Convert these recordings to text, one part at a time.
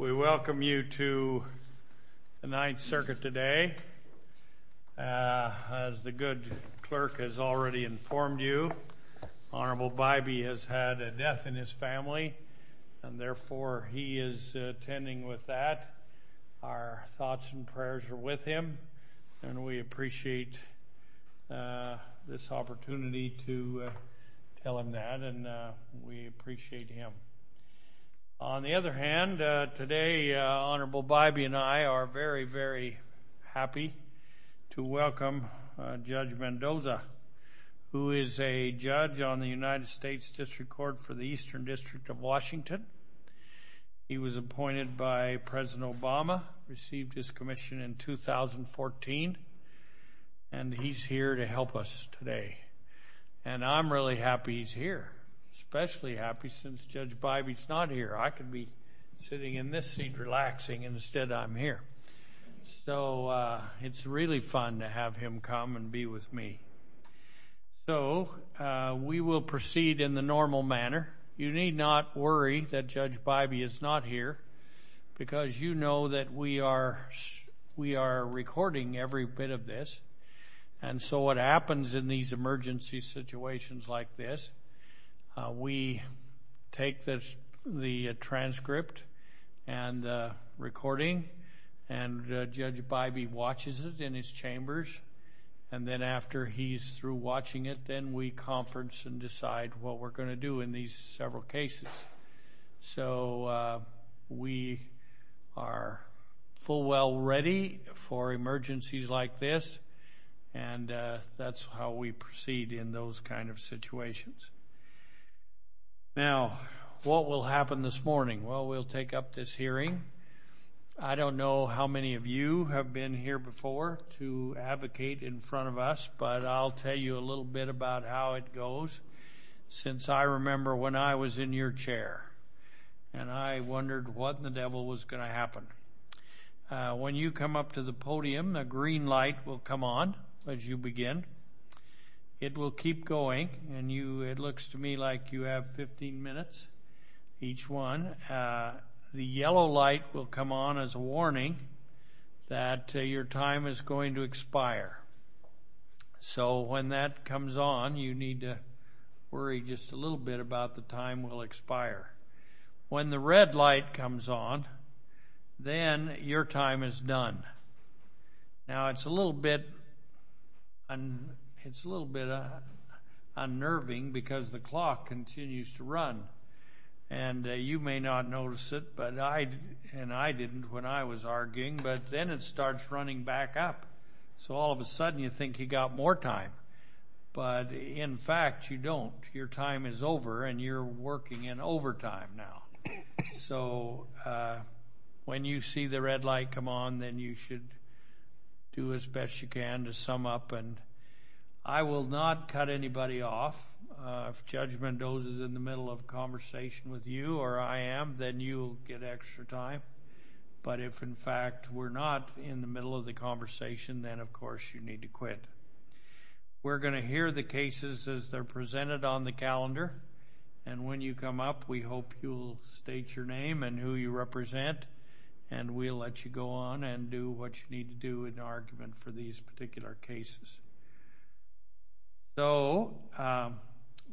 We welcome you to the Ninth Circuit today. As the good clerk has already informed you, Honorable Bybee has had a death in his family, and therefore he is attending with that. Our appreciate this opportunity to tell him that, and we appreciate him. On the other hand, today Honorable Bybee and I are very, very happy to welcome Judge Mendoza, who is a judge on the United States District Court for the Eastern District of Washington. He was appointed by President Obama, received his commission in 2014, and he's here to help us today. And I'm really happy he's here, especially happy since Judge Bybee's not here. I could be sitting in this seat relaxing, and instead I'm here. So it's really fun to have him come and be with me. So we will proceed in the normal manner. You need not worry that Judge Bybee is not here, because you know that we are recording every bit of this. And so what happens in these emergency situations like this, we take the transcript and recording, and Judge Bybee watches it in his chambers, and then after he's through watching it, then we conference and decide what we're going to do in these several cases. So we are full well ready for emergencies like this, and that's how we proceed in those kind of situations. Now, what will happen this morning? Well, we'll take up this hearing. I don't know how many of you have been here before to advocate in front of us, but I'll tell you a little bit about how it goes, since I remember when I was in your chair, and I wondered what in the devil was going to happen. When you come up to the podium, the green light will come on as you begin. It will keep going, and you, it looks to me like you have 15 minutes each one. The yellow light will come on as a warning that your time is going to expire. So when that comes on, you need to worry just a little bit about the time will expire. When the red light comes on, then your time is done. Now it's a little bit, and it's a little bit unnerving because the clock continues to run, and you may not notice it, but I, and I didn't when I was arguing, but then it starts running back up. So all of a sudden you think you got more time, but in fact you don't. Your time is over, and you're working in overtime now. So when you see the red light come on, then you should do as best you can to sum up, and I will not cut anybody off. If Judge Mendoza is in the middle of conversation with you, or I am, then you'll get extra time, but if in fact we're not in the middle of the conversation, then of course you need to quit. We're going to hear the cases as they're presented on the calendar, and when you come up, we hope you'll state your name and who you represent, and we'll let you go on and do what you need to do in argument for these particular cases. So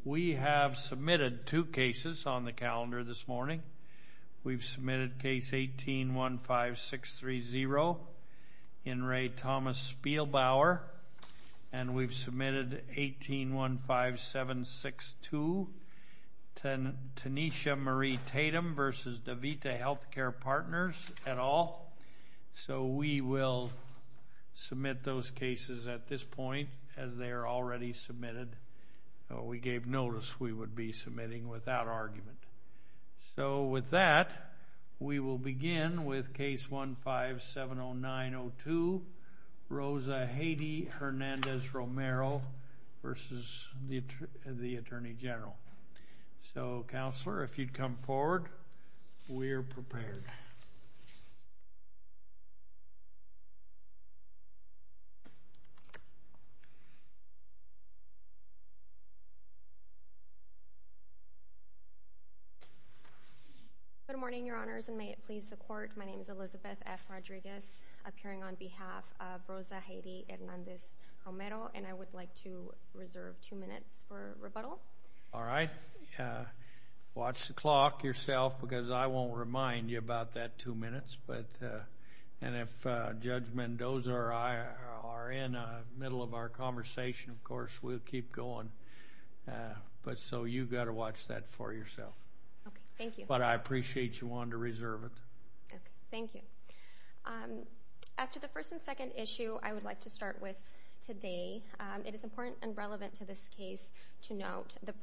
we have submitted two cases on the calendar this morning. We've submitted case 18-15-630, Henry Thomas Spielbauer, and we've submitted 18-15-762, Tanisha Marie Tatum versus DeVita Health Care Partners et al. So we will submit those cases at this point as they are already submitted. We gave notice we would be submitting without argument. So with that, we will begin with case 15-709-02, Rosa Haiti Hernandez Romero versus the Attorney General. So, Counselor, if you'd come forward, we're prepared. Good morning, Your Honors, and may it please the Court. My name is Elizabeth F. Rodriguez, appearing on behalf of Rosa All right. Watch the clock yourself, because I won't remind you about that two minutes. And if Judge Mendoza or I are in the middle of our conversation, of course, we'll keep going. But so you've got to watch that for yourself. Okay. Thank you. But I appreciate you wanting to reserve it. Okay. Thank you. As to the first and second issue, I would like to start with today. It is important and relevant to this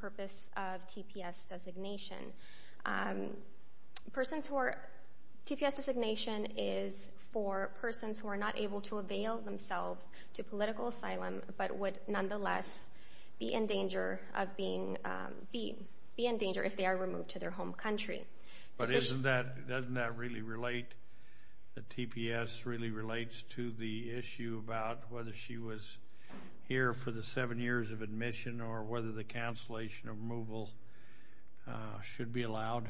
purpose of TPS designation. TPS designation is for persons who are not able to avail themselves to political asylum, but would nonetheless be in danger if they are removed to their home country. But doesn't that really relate, that TPS really relates to the issue about whether she was here for the seven years of admission or whether the cancellation of removal should be allowed?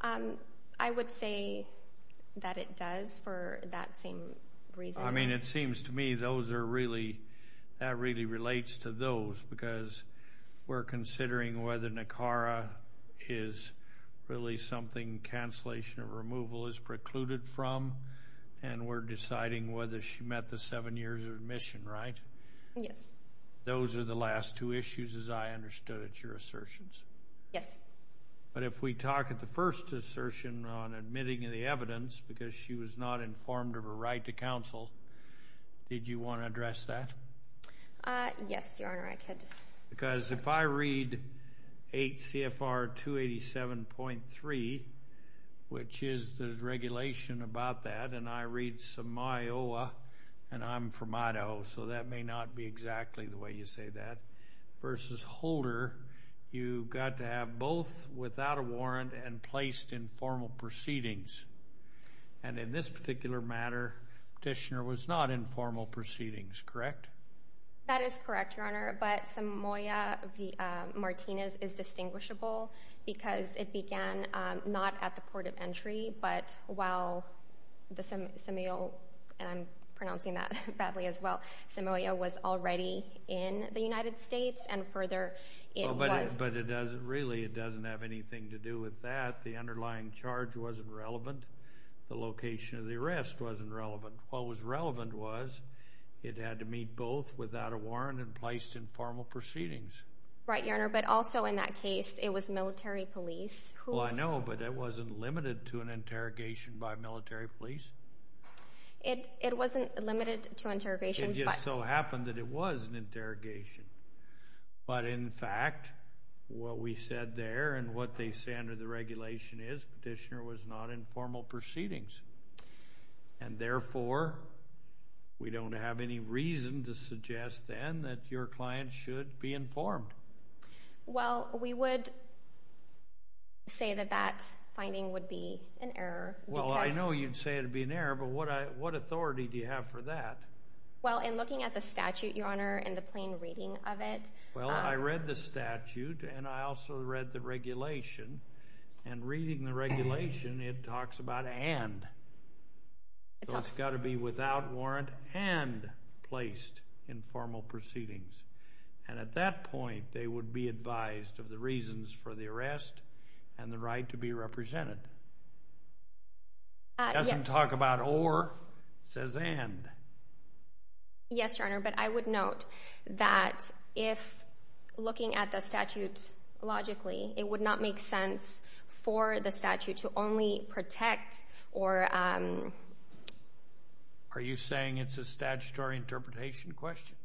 I would say that it does for that same reason. I mean, it seems to me those are really, that really relates to those, because we're considering whether Nicara is really something cancellation of removal is precluded from, and we're deciding whether she met the seven years of admission, right? Yes. Those are the last two issues, as I understood it, your assertions. Yes. But if we talk at the first assertion on admitting the evidence, because she was not informed of her right to counsel, did you want to address that? Yes, Your Honor, I could. Because if I read 8 CFR 287.3, which is the regulation about that, and I read some Iowa, and I'm from Idaho, so that may not be exactly the way you say that, versus Holder, you've got to have both without a warrant and placed in formal proceedings. And in this particular matter, petitioner was not in formal proceedings, correct? That is correct, Your Honor, but Samoya v. Martinez is distinguishable, because it began not at the port of entry, but while Samoya, and I'm pronouncing that badly as well, Samoya was already in the United States, and further, it was... But it doesn't, really, it doesn't have anything to do with that. The underlying charge wasn't relevant. The location of the arrest wasn't relevant. What was relevant was, it had to meet both without a warrant and placed in formal proceedings. Right, Your Honor, but also in that case, it was military police. Well, I know, but it wasn't limited to an interrogation by military police. It wasn't limited to interrogation, but... It just so happened that it was an interrogation. But in fact, what we said there, and what they say under the regulation is, petitioner was not in formal proceedings. And therefore, we don't have any reason to suggest, then, that your client should be informed. Well, we would say that that finding would be an error, because... Well, I know you'd say it would be an error, but what authority do you have for that? Well, in looking at the statute, Your Honor, and the plain reading of it... So it's got to be without warrant and placed in formal proceedings. And at that point, they would be advised of the reasons for the arrest and the right to be represented. It doesn't talk about or, it says and. Yes, Your Honor, but I would note that if looking at the statute logically, it would not make sense for the statute to only protect or... Are you saying it's a statutory interpretation question?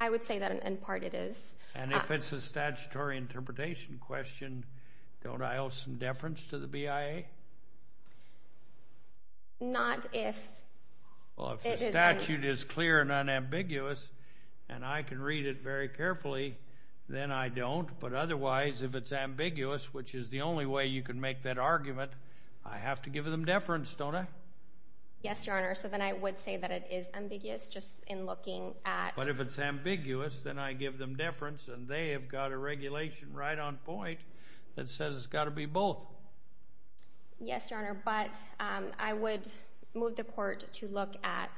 I would say that, in part, it is. And if it's a statutory interpretation question, don't I owe some deference to the BIA? Not if... Well, if the statute is clear and unambiguous, and I can read it very carefully, then I don't. But otherwise, if it's ambiguous, which is the only way you can make that argument, I have to give them deference, don't I? Yes, Your Honor, so then I would say that it is ambiguous, just in looking at... But if it's ambiguous, then I give them deference, and they have got a regulation right on point that says it's got to be both. Yes, Your Honor, but I would move the court to look at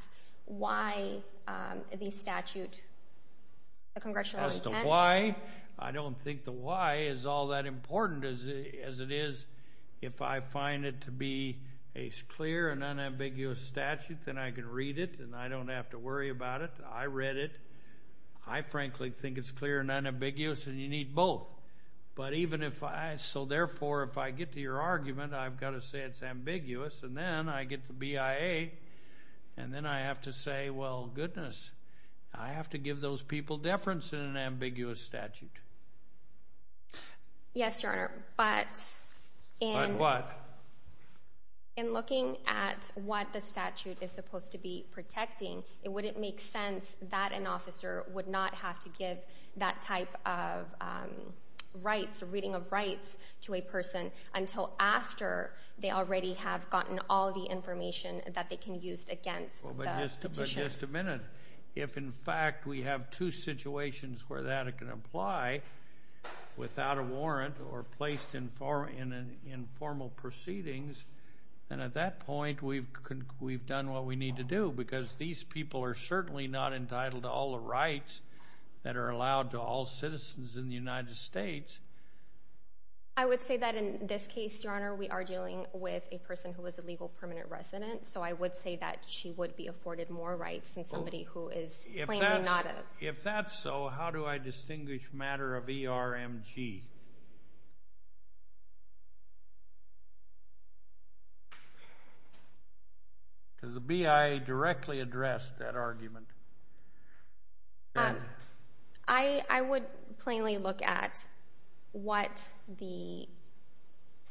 why the statute, the congressional intent... Why? I don't think the why is all that important as it is. If I find it to be a clear and unambiguous statute, then I can read it, and I don't have to worry about it. I read it. I frankly think it's clear and unambiguous, and you need both. But even if I... So therefore, if I get to your argument, I've got to say it's ambiguous. And then I get the BIA, and then I have to say, well, goodness, I have to give those people deference in an ambiguous statute. Yes, Your Honor, but... But what? In looking at what the statute is supposed to be protecting, it wouldn't make sense that an officer would not have to give that type of rights or reading of rights to a person until after they already have gotten all the information that they can use against the petitioner. But just a minute. If, in fact, we have two situations where that can apply without a warrant or placed in formal proceedings, then at that point, we've done what we need to do, because these people are certainly not entitled to all the rights that are allowed to all citizens in the United States. I would say that in this case, Your Honor, we are dealing with a person who is a legal permanent resident. So I would say that she would be afforded more rights than somebody who is plainly not... If that's so, how do I distinguish matter of ERMG? Because the BIA directly addressed that argument. I would plainly look at what the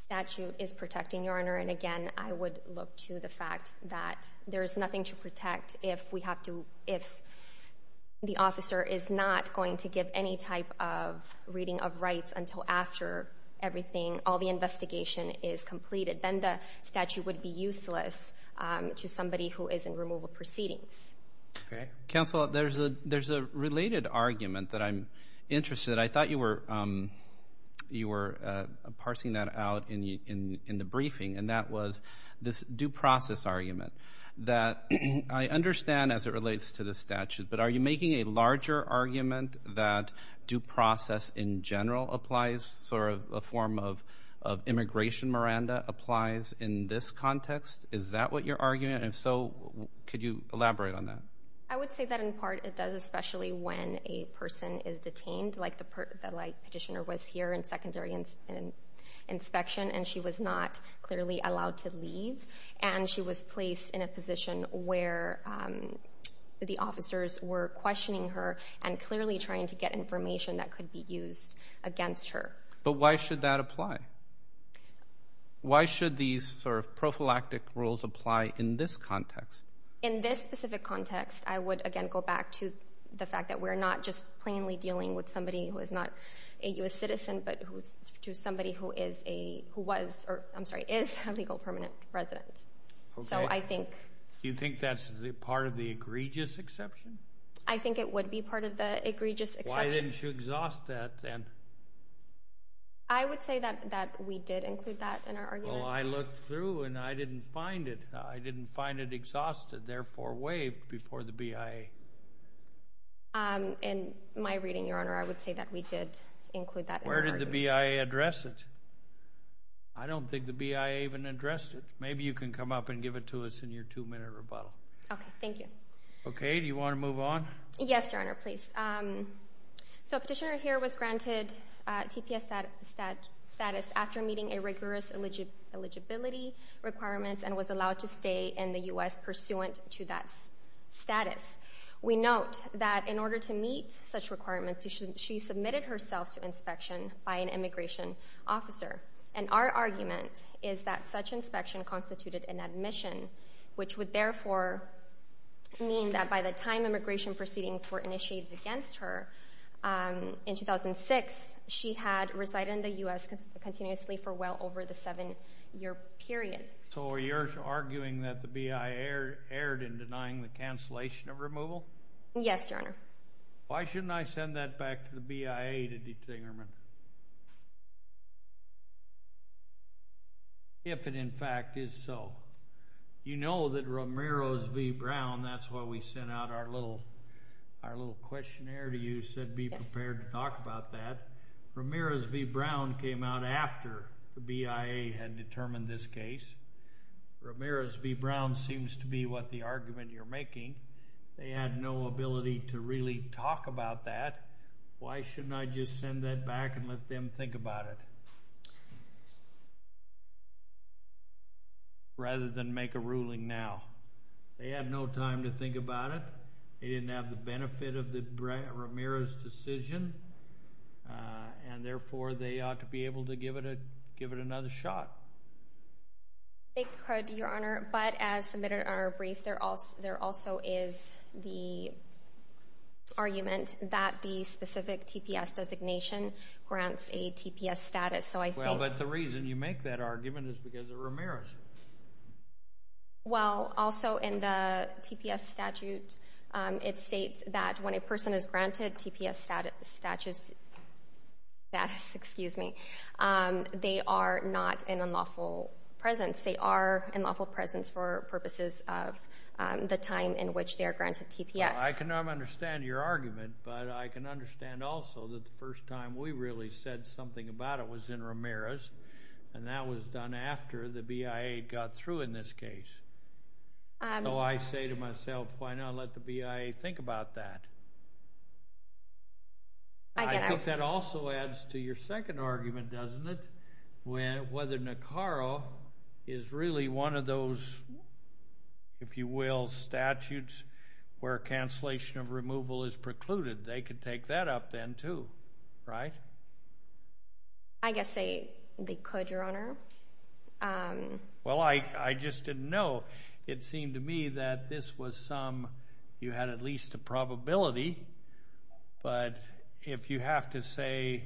statute is protecting, Your Honor. And again, I would look to the fact that there is nothing to protect if we have to... If the officer is not going to give any type of reading of rights until after everything, all the investigation is completed, then the statute would be useless to somebody who is in removal proceedings. Okay. Counsel, there's a related argument that I'm interested. I thought you were parsing that out in the briefing. This due process argument that I understand as it relates to the statute, but are you making a larger argument that due process in general applies, sort of a form of immigration, Miranda, applies in this context? Is that what you're arguing? And if so, could you elaborate on that? I would say that in part it does, especially when a person is detained, like the petitioner was here in secondary inspection, and she was not clearly allowed to leave. And she was placed in a position where the officers were questioning her and clearly trying to get information that could be used against her. But why should that apply? Why should these sort of prophylactic rules apply in this context? In this specific context, I would again go back to the fact that we're not just plainly dealing with somebody who is not a U.S. citizen, but to somebody who is a, who was, or I'm sorry, is a legal permanent resident. So I think... Do you think that's part of the egregious exception? I think it would be part of the egregious exception. Why didn't you exhaust that then? I would say that we did include that in our argument. Well, I looked through and I didn't find it. I didn't find it exhausted, therefore waived before the BIA. In my reading, Your Honor, I would say that we did include that. Where did the BIA address it? I don't think the BIA even addressed it. Maybe you can come up and give it to us in your two-minute rebuttal. Okay, thank you. Okay, do you want to move on? Yes, Your Honor, please. So a petitioner here was granted TPS status after meeting a rigorous eligibility requirements and was allowed to stay in the U.S. pursuant to that status. We note that in order to meet such requirements, she submitted herself to inspection by an immigration officer. And our argument is that such inspection constituted an admission, which would therefore mean that by the time immigration proceedings were initiated against her in 2006, she had resided in the U.S. continuously for well over the seven-year period. So you're arguing that the BIA erred in denying the cancellation of removal? Yes, Your Honor. Why shouldn't I send that back to the BIA to determine if it in fact is so? You know that Ramirez v. Brown, that's why we sent out our little questionnaire to you, said be prepared to talk about that. Ramirez v. Brown came out after the BIA had determined this case. Ramirez v. Brown seems to be what the argument you're making. They had no ability to really talk about that. Why shouldn't I just send that back and let them think about it rather than make a ruling now? They had no time to think about it. They didn't have the benefit of the Ramirez decision. And therefore, they ought to be able to give it another shot. They could, Your Honor. But as submitted in our brief, there also is the argument that the specific TPS designation grants a TPS status. So I think Well, but the reason you make that argument is because of Ramirez. Well, also in the TPS statute, it states that when a person is granted TPS status, excuse me, they are not in unlawful presence. They are in unlawful presence for purposes of the time in which they are granted TPS. I can understand your argument, but I can understand also that the first time we really said something about it was in Ramirez, and that was done after the BIA got through in this case. So I say to myself, why not let the BIA think about that? I think that also adds to your second argument, doesn't it? Whether NACARO is really one of those, if you will, statutes where cancellation of removal is precluded, they could take that up then, too, right? I guess they could, Your Honor. Well, I just didn't know. It seemed to me that this was some, you had at least a probability. But if you have to say,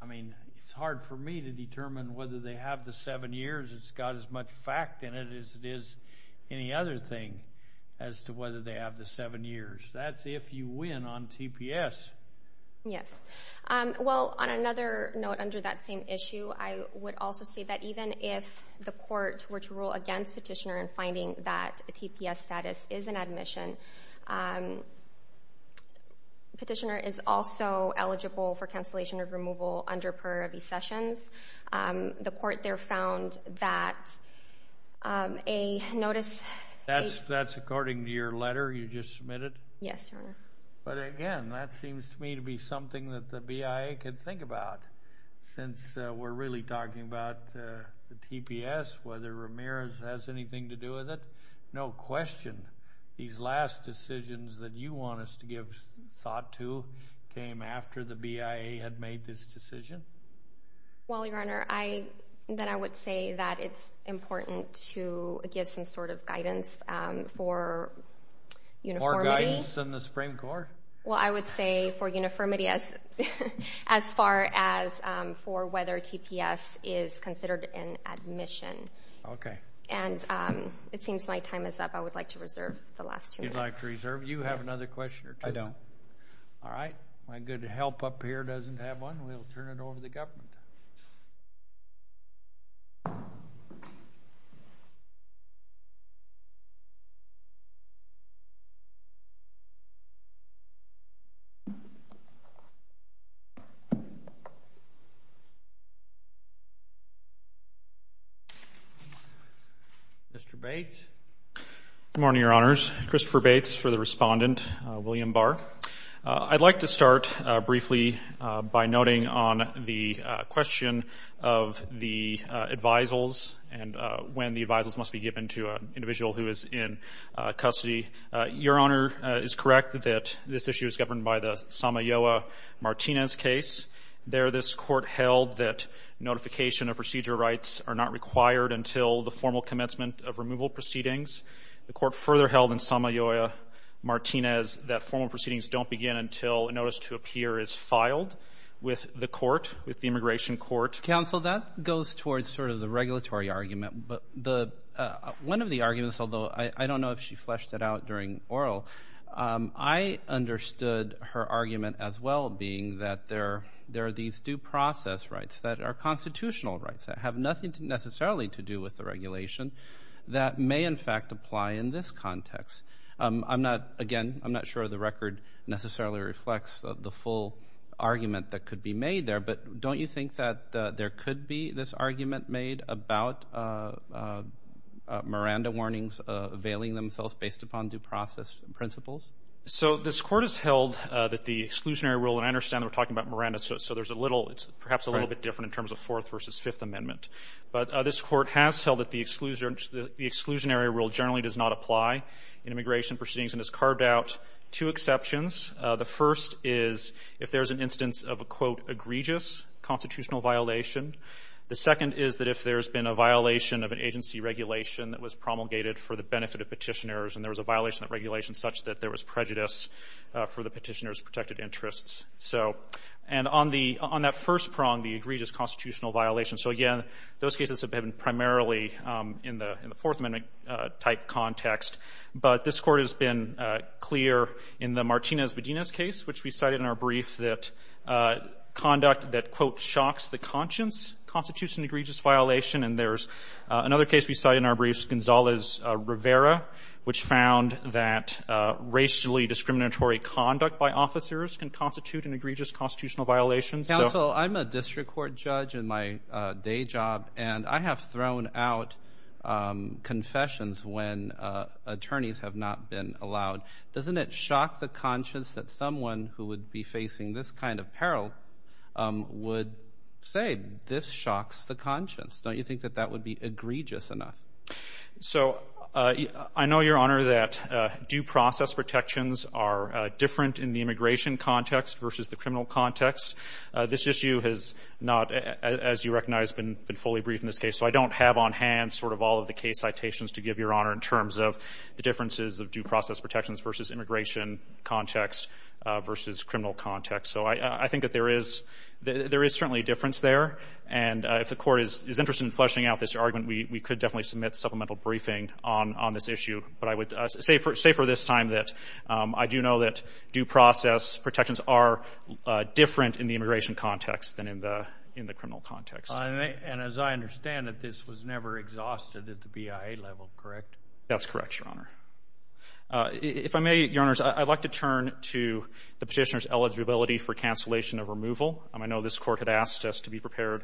I mean, it's hard for me to determine whether they have the seven years. It's got as much fact in it as it is any other thing as to whether they have the seven years. That's if you win on TPS. Yes. Well, on another note under that same issue, I would also say that even if the court were to rule against Petitioner in finding that a TPS status is an admission, Petitioner is also eligible for cancellation of removal under prior recessions. The court there found that a notice... That's according to your letter you just submitted? Yes, Your Honor. But again, that seems to me to be something that the BIA could think about, since we're really talking about the TPS, whether Ramirez has anything to do with it. No question. These last decisions that you want us to give thought to came after the BIA had made this decision. Well, Your Honor, then I would say that it's important to give some sort of guidance for uniformity. More guidance than the Supreme Court. Well, I would say for uniformity as far as for whether TPS is considered an admission. Okay. And it seems my time is up. I would like to reserve the last two minutes. You'd like to reserve? You have another question or two? I don't. All right. My good help up here doesn't have one. We'll turn it over to the government. Mr. Bates. Good morning, Your Honors. Christopher Bates for the respondent, William Barr. I'd like to start briefly by noting on the question of the advisals and when the advisals must be given to an individual who is in custody. Your Honor is correct that this issue is governed by the Samayoa-Martinez case. There, this court held that notification of procedure rights are not required until the formal commencement of removal proceedings. The court further held in Samayoa-Martinez that formal proceedings don't begin until a notice to appear is filed with the court, with the immigration court. Counsel, that goes towards sort of the regulatory argument. But one of the arguments, although I don't know if she fleshed it out during oral, I understood her argument as well being that there are these due process rights that are constitutional rights that have nothing necessarily to do with the regulation that may in fact apply in this context. I'm not, again, I'm not sure the record necessarily reflects the full argument that could be made there. But don't you think that there could be this argument made about Miranda warnings availing themselves based upon due process principles? So this court has held that the exclusionary rule, and I understand that we're talking about Miranda, so there's a little, it's perhaps a little bit different in terms of Fourth versus Fifth Amendment. But this court has held that the exclusionary rule generally does not apply in immigration proceedings and has carved out two exceptions. The first is if there's an instance of a, quote, egregious constitutional violation. The second is that if there's been a violation of an agency regulation that was promulgated for the benefit of Petitioners and there was a violation of regulation such that there was prejudice for the Petitioners' protected interests. So, and on the, on that first prong, the egregious constitutional violation. So, again, those cases have been primarily in the Fourth Amendment-type context. But this court has been clear in the Martinez-Medina case, which we cited in our brief that conduct that, quote, shocks the conscience constitutes an egregious violation. And there's another case we cited in our brief, Gonzalez-Rivera, which found that racially discriminatory conduct by officers can constitute an egregious constitutional violation. Counsel, I'm a district court judge in my day job, and I have thrown out confessions when attorneys have not been allowed. Doesn't it shock the conscience that someone who would be facing this kind of peril would say, this shocks the conscience? Don't you think that that would be egregious enough? So, I know, Your Honor, that due process protections are different in the immigration context versus the criminal context. This issue has not, as you recognize, been fully briefed in this case. So I don't have on hand sort of all of the case citations to give, Your Honor, in terms of the differences of due process protections versus immigration context versus criminal context. So I think that there is certainly a difference there. And if the Court is interested in fleshing out this argument, we could definitely submit supplemental briefing on this issue. But I would say for this time that I do know that due process protections are different in the immigration context than in the criminal context. And as I understand it, this was never exhausted at the BIA level, correct? That's correct, Your Honor. If I may, Your Honors, I'd like to turn to the Petitioner's eligibility for cancellation of removal. I know this Court had asked us to be prepared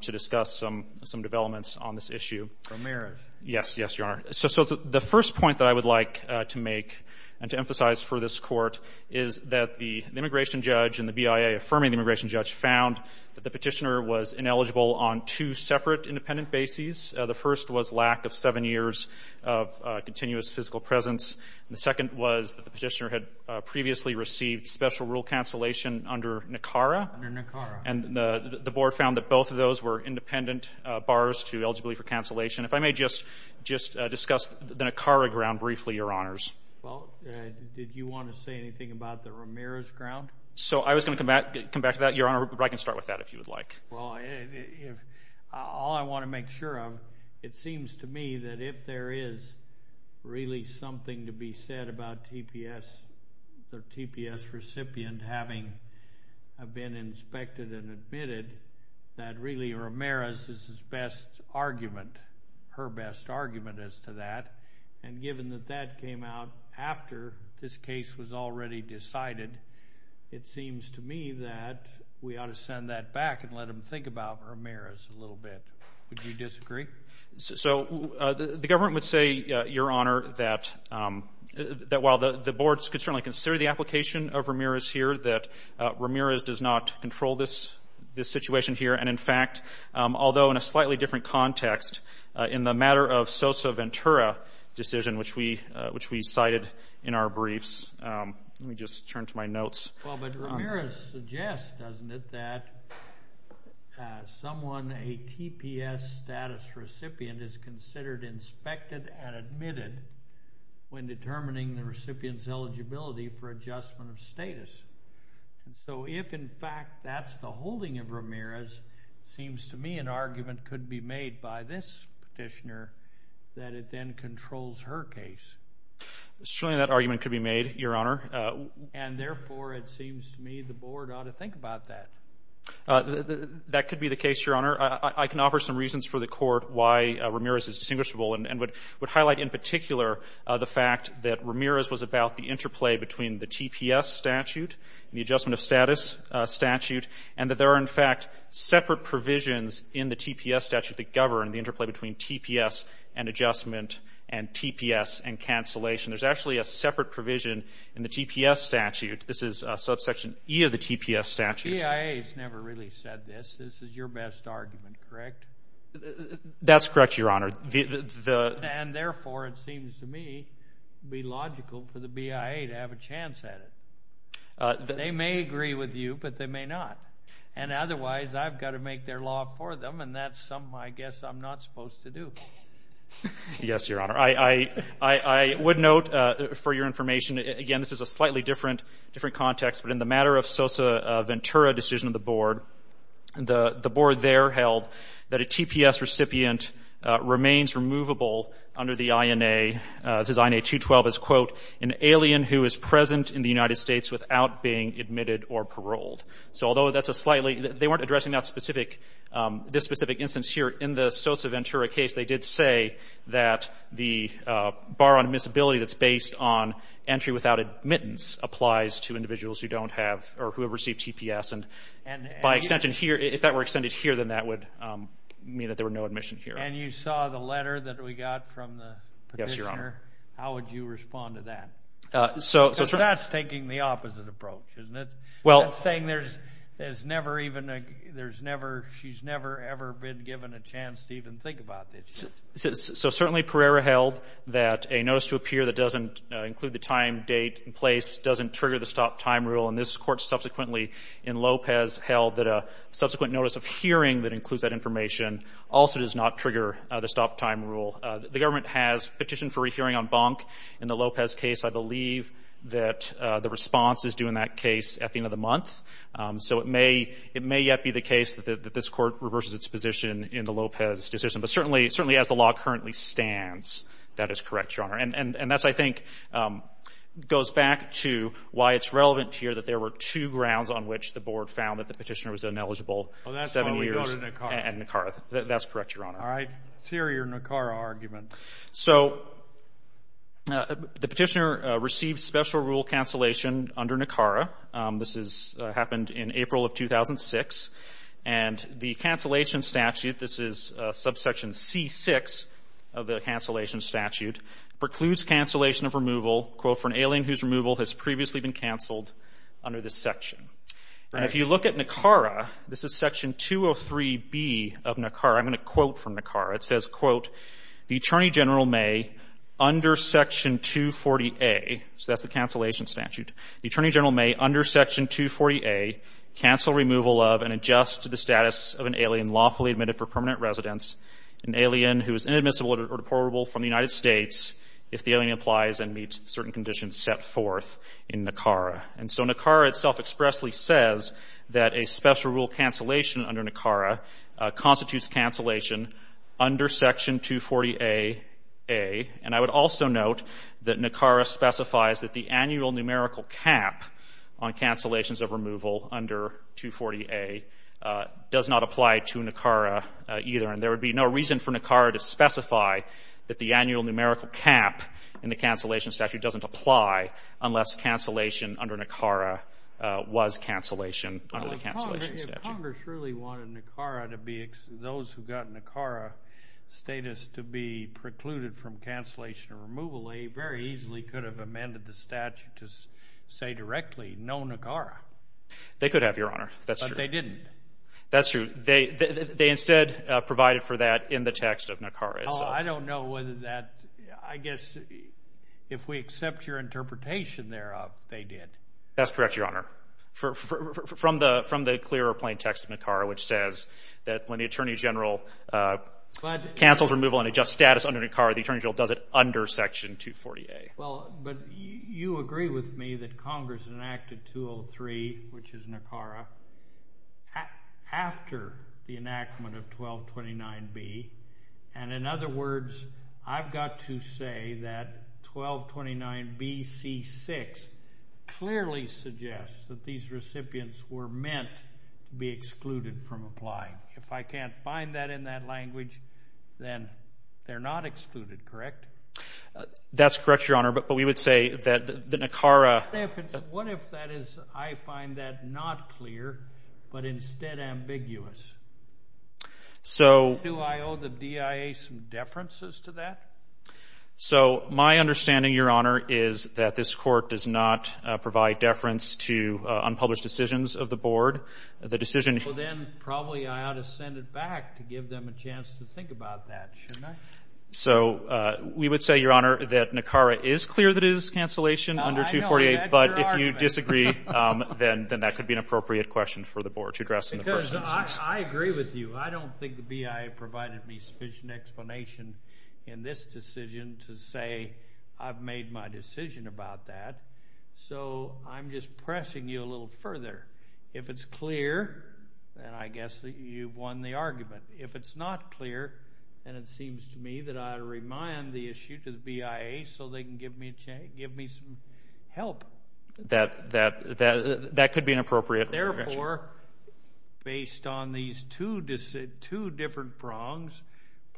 to discuss some developments on this issue. Ramirez. Yes, Your Honor. So the first point that I would like to make and to emphasize for this Court is that the immigration judge and the BIA affirming the immigration judge found that the Petitioner was ineligible on two separate independent bases. The first was lack of seven years of continuous physical presence. The second was that the Petitioner had previously received special rule cancellation under NACARA. Under NACARA. And the Board found that both of those were independent bars to eligibility for cancellation. If I may just discuss the NACARA ground briefly, Your Honors. Well, did you want to say anything about the Ramirez ground? So I was going to come back to that, Your Honor, but I can start with that if you would like. Well, all I want to make sure of, it seems to me that if there is really something to be said about TPS, the TPS recipient having been inspected and admitted, that really Ramirez is his best argument, her best argument as to that. And given that that came out after this case was already decided, it seems to me that we ought to send that back and let them think about Ramirez a little bit. Would you disagree? So the government would say, Your Honor, that while the Board could certainly consider the application of Ramirez here, that Ramirez does not control this situation here. And in fact, although in a slightly different context, in the matter of Sosa Ventura decision, which we cited in our briefs, let me just turn to my notes. Well, but Ramirez suggests, doesn't it, that someone, a TPS status recipient is considered inspected and admitted when determining the recipient's eligibility for adjustment of status. And so if, in fact, that's the holding of Ramirez, it seems to me an argument could be made by this petitioner that it then controls her case. Certainly that argument could be made, Your Honor. And therefore, it seems to me the Board ought to think about that. That could be the case, Your Honor. I can offer some reasons for the Court why Ramirez is distinguishable and would highlight in particular the fact that Ramirez was about the interplay between the TPS statute and the adjustment of status statute and that there are, in fact, separate provisions in the TPS statute that govern the interplay between TPS and adjustment and TPS and cancellation. There's actually a separate provision in the TPS statute. This is subsection E of the TPS statute. The BIA has never really said this. This is your best argument, correct? That's correct, Your Honor. And therefore, it seems to me it would be logical for the BIA to have a chance at it. They may agree with you, but they may not. And otherwise, I've got to make their law for them, and that's something I guess I'm not supposed to do. Yes, Your Honor. I would note for your information, again, this is a slightly different context, but in the matter of Sosa Ventura decision of the Board, the Board there held that a remains removable under the INA, this is INA 212, is, quote, an alien who is present in the United States without being admitted or paroled. So although that's a slightly, they weren't addressing that specific, this specific instance here in the Sosa Ventura case, they did say that the bar on admissibility that's based on entry without admittance applies to individuals who don't have, or who have received TPS. And by extension here, if that were extended here, then that would mean that there were no admission here. And you saw the letter that we got from the petitioner. How would you respond to that? Because that's taking the opposite approach, isn't it? That's saying there's never even a, there's never, she's never ever been given a chance to even think about this. So certainly Pereira held that a notice to appear that doesn't include the time, date, and place doesn't trigger the stop time rule. And this Court subsequently in Lopez held that a subsequent notice of hearing that doesn't trigger the stop time rule. The government has petitioned for a hearing on Bonk in the Lopez case. I believe that the response is due in that case at the end of the month. So it may, it may yet be the case that this Court reverses its position in the Lopez decision. But certainly, certainly as the law currently stands, that is correct, Your Honor. And that's, I think, goes back to why it's relevant here that there were two grounds on which the Board found that the petitioner was ineligible, seven years. And that's correct, Your Honor. I hear your Nicara argument. So the petitioner received special rule cancellation under Nicara. This is, happened in April of 2006. And the cancellation statute, this is subsection C6 of the cancellation statute, precludes cancellation of removal, quote, for an alien whose removal has previously been canceled under this section. And if you look at Nicara, this is section 203B of Nicara. I'm going to quote from Nicara. It says, quote, the Attorney General may, under section 240A, so that's the cancellation statute, the Attorney General may, under section 240A, cancel removal of and adjust to the status of an alien lawfully admitted for permanent residence, an alien who is inadmissible or deportable from the United States if the alien applies and meets certain conditions set forth in Nicara. And so Nicara itself expressly says that a special rule cancellation under Nicara constitutes cancellation under section 240A, and I would also note that Nicara specifies that the annual numerical cap on cancellations of removal under 240A does not apply to Nicara either. And there would be no reason for Nicara to specify that the annual numerical cap in the cancellation statute doesn't apply unless cancellation under Nicara was cancellation under the cancellation statute. Congress really wanted Nicara to be, those who got Nicara status to be precluded from cancellation removal, they very easily could have amended the statute to say directly, no Nicara. They could have, Your Honor, that's true. But they didn't. That's true. They instead provided for that in the text of Nicara itself. Oh, I don't know whether that, I guess if we accept your interpretation thereof, they did. That's correct, Your Honor. From the clearer plain text of Nicara, which says that when the Attorney General cancels removal and adjusts status under Nicara, the Attorney General does it under section 240A. Well, but you agree with me that Congress enacted 203, which is Nicara, after the enactment of 1229B. And in other words, I've got to say that 1229B.C.6 clearly suggests that these recipients were meant to be excluded from applying. If I can't find that in that language, then they're not excluded, correct? That's correct, Your Honor. But we would say that the Nicara... What if that is, I find that not clear, but instead ambiguous? So... Do I owe the DIA some deferences to that? So my understanding, Your Honor, is that this Court does not provide deference to unpublished decisions of the Board. The decision... Well, then probably I ought to send it back to give them a chance to think about that, shouldn't I? So we would say, Your Honor, that Nicara is clear that it is cancellation under 248, but if you disagree, then that could be an appropriate question for the Board to address in the first instance. I agree with you. I don't think the BIA provided me sufficient explanation in this decision to say I've made my decision about that. So I'm just pressing you a little further. If it's clear, then I guess that you've won the argument. If it's not clear, then it seems to me that I ought to remind the issue to the BIA so they can give me some help. That could be an appropriate question. Therefore, based on these two different prongs,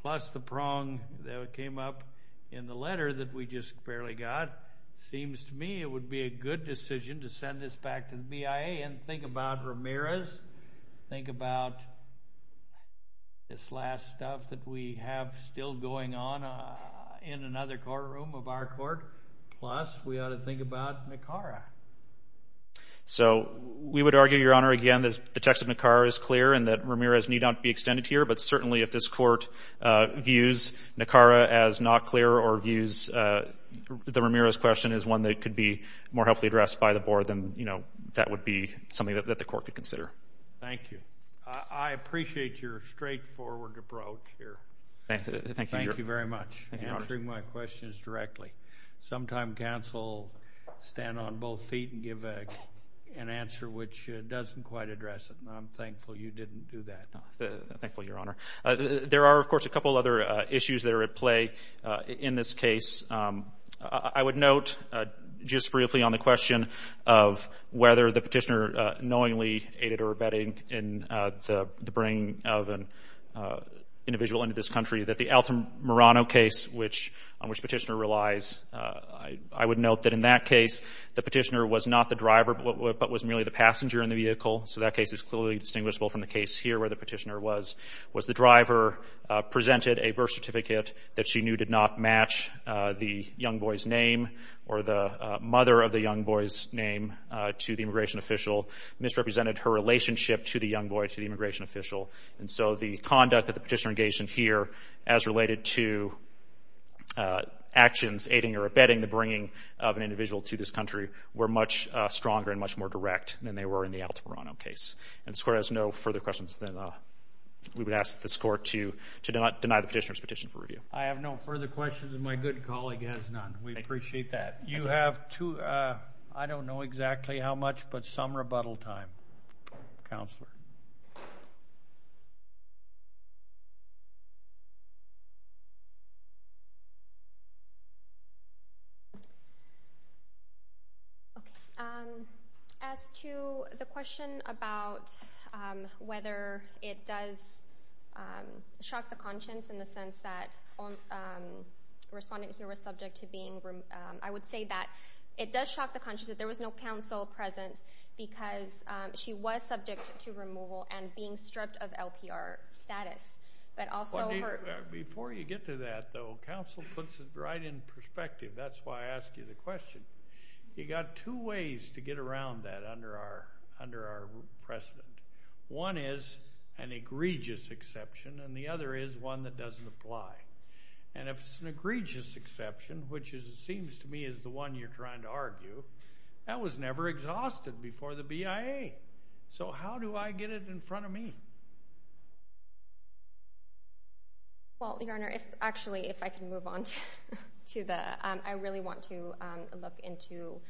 plus the prong that came up in the letter that we just barely got, it seems to me it would be a good decision to send this back to the BIA and think about Ramirez, think about this last stuff that we have still going on in another courtroom of our Court, plus we ought to think about Nicara. So we would argue, Your Honor, again, that the text of Nicara is clear and that Ramirez need not be extended here, but certainly if this Court views Nicara as not clear or views the Ramirez question as one that could be more helpfully addressed by the Board, then that would be something that the Court could consider. Thank you. I appreciate your straightforward approach here. Thank you, Your Honor. Thank you very much for answering my questions directly. Sometime counsel stand on both feet and give an answer which doesn't quite address it, and I'm thankful you didn't do that. No, I'm thankful, Your Honor. There are, of course, a couple other issues that are at play in this case. I would note just briefly on the question of whether the Petitioner knowingly aided or abetting in the bringing of an individual into this country that the Altamirano case on which Petitioner relies, I would note that in that case the Petitioner was not the driver but was merely the passenger in the vehicle. So that case is clearly distinguishable from the case here where the Petitioner was. Was the driver presented a birth certificate that she knew did not match the young boy's name or the mother of the young boy's name to the immigration official, misrepresented her relationship to the young boy to the immigration official. And so the conduct that the Petitioner engaged in here as related to actions aiding or abetting the bringing of an individual to this country were much stronger and much more direct than they were in the Altamirano case. And this Court has no further questions. Then we would ask this Court to deny the Petitioner's petition for review. I have no further questions, and my good colleague has none. We appreciate that. You have two, I don't know exactly how much, but some rebuttal time. Counselor. Okay, as to the question about whether it does shock the conscience in the sense that respondent here was subject to being, I would say that it does shock the conscience that there was no counsel present because she was subject to removal and being stripped of LPR status. Before you get to that, though, counsel puts it right in perspective. That's why I ask you the question. You got two ways to get around that under our precedent. One is an egregious exception, and the other is one that doesn't apply. And if it's an egregious exception, which it seems to me is the one you're trying to do, that was never exhausted before the BIA. So how do I get it in front of me? Well, Your Honor, actually, if I can move on to the, I really want to look into.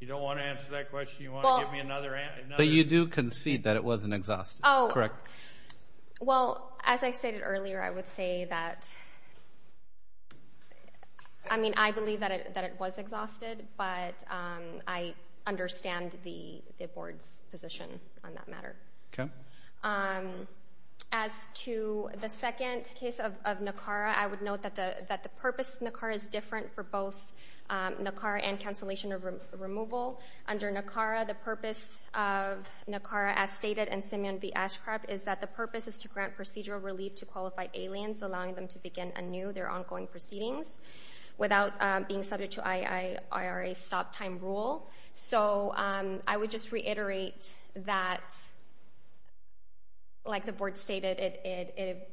You don't want to answer that question? You want to give me another answer? But you do concede that it wasn't exhausted. Oh, well, as I stated earlier, I would say that, I mean, I believe that it was exhausted, but I understand the Board's position on that matter. Okay. As to the second case of NACARA, I would note that the purpose of NACARA is different for both NACARA and cancellation of removal. Under NACARA, the purpose of NACARA, as stated in Simeon v. Ashcroft, is that the purpose is to grant procedural relief to qualified aliens, allowing them to begin anew their stop-time rule. So I would just reiterate that, like the Board stated, it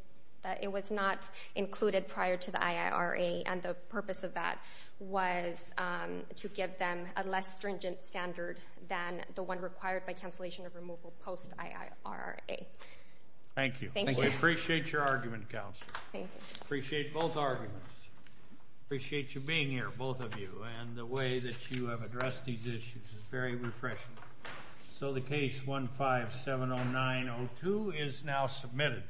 was not included prior to the IIRA, and the purpose of that was to give them a less stringent standard than the one required by cancellation of removal post-IIRA. Thank you. Thank you. We appreciate your argument, Counselor. Thank you. Appreciate both arguments. Appreciate you being here, both of you, and the way that you have addressed these issues is very refreshing. So the case 1570902 is now submitted.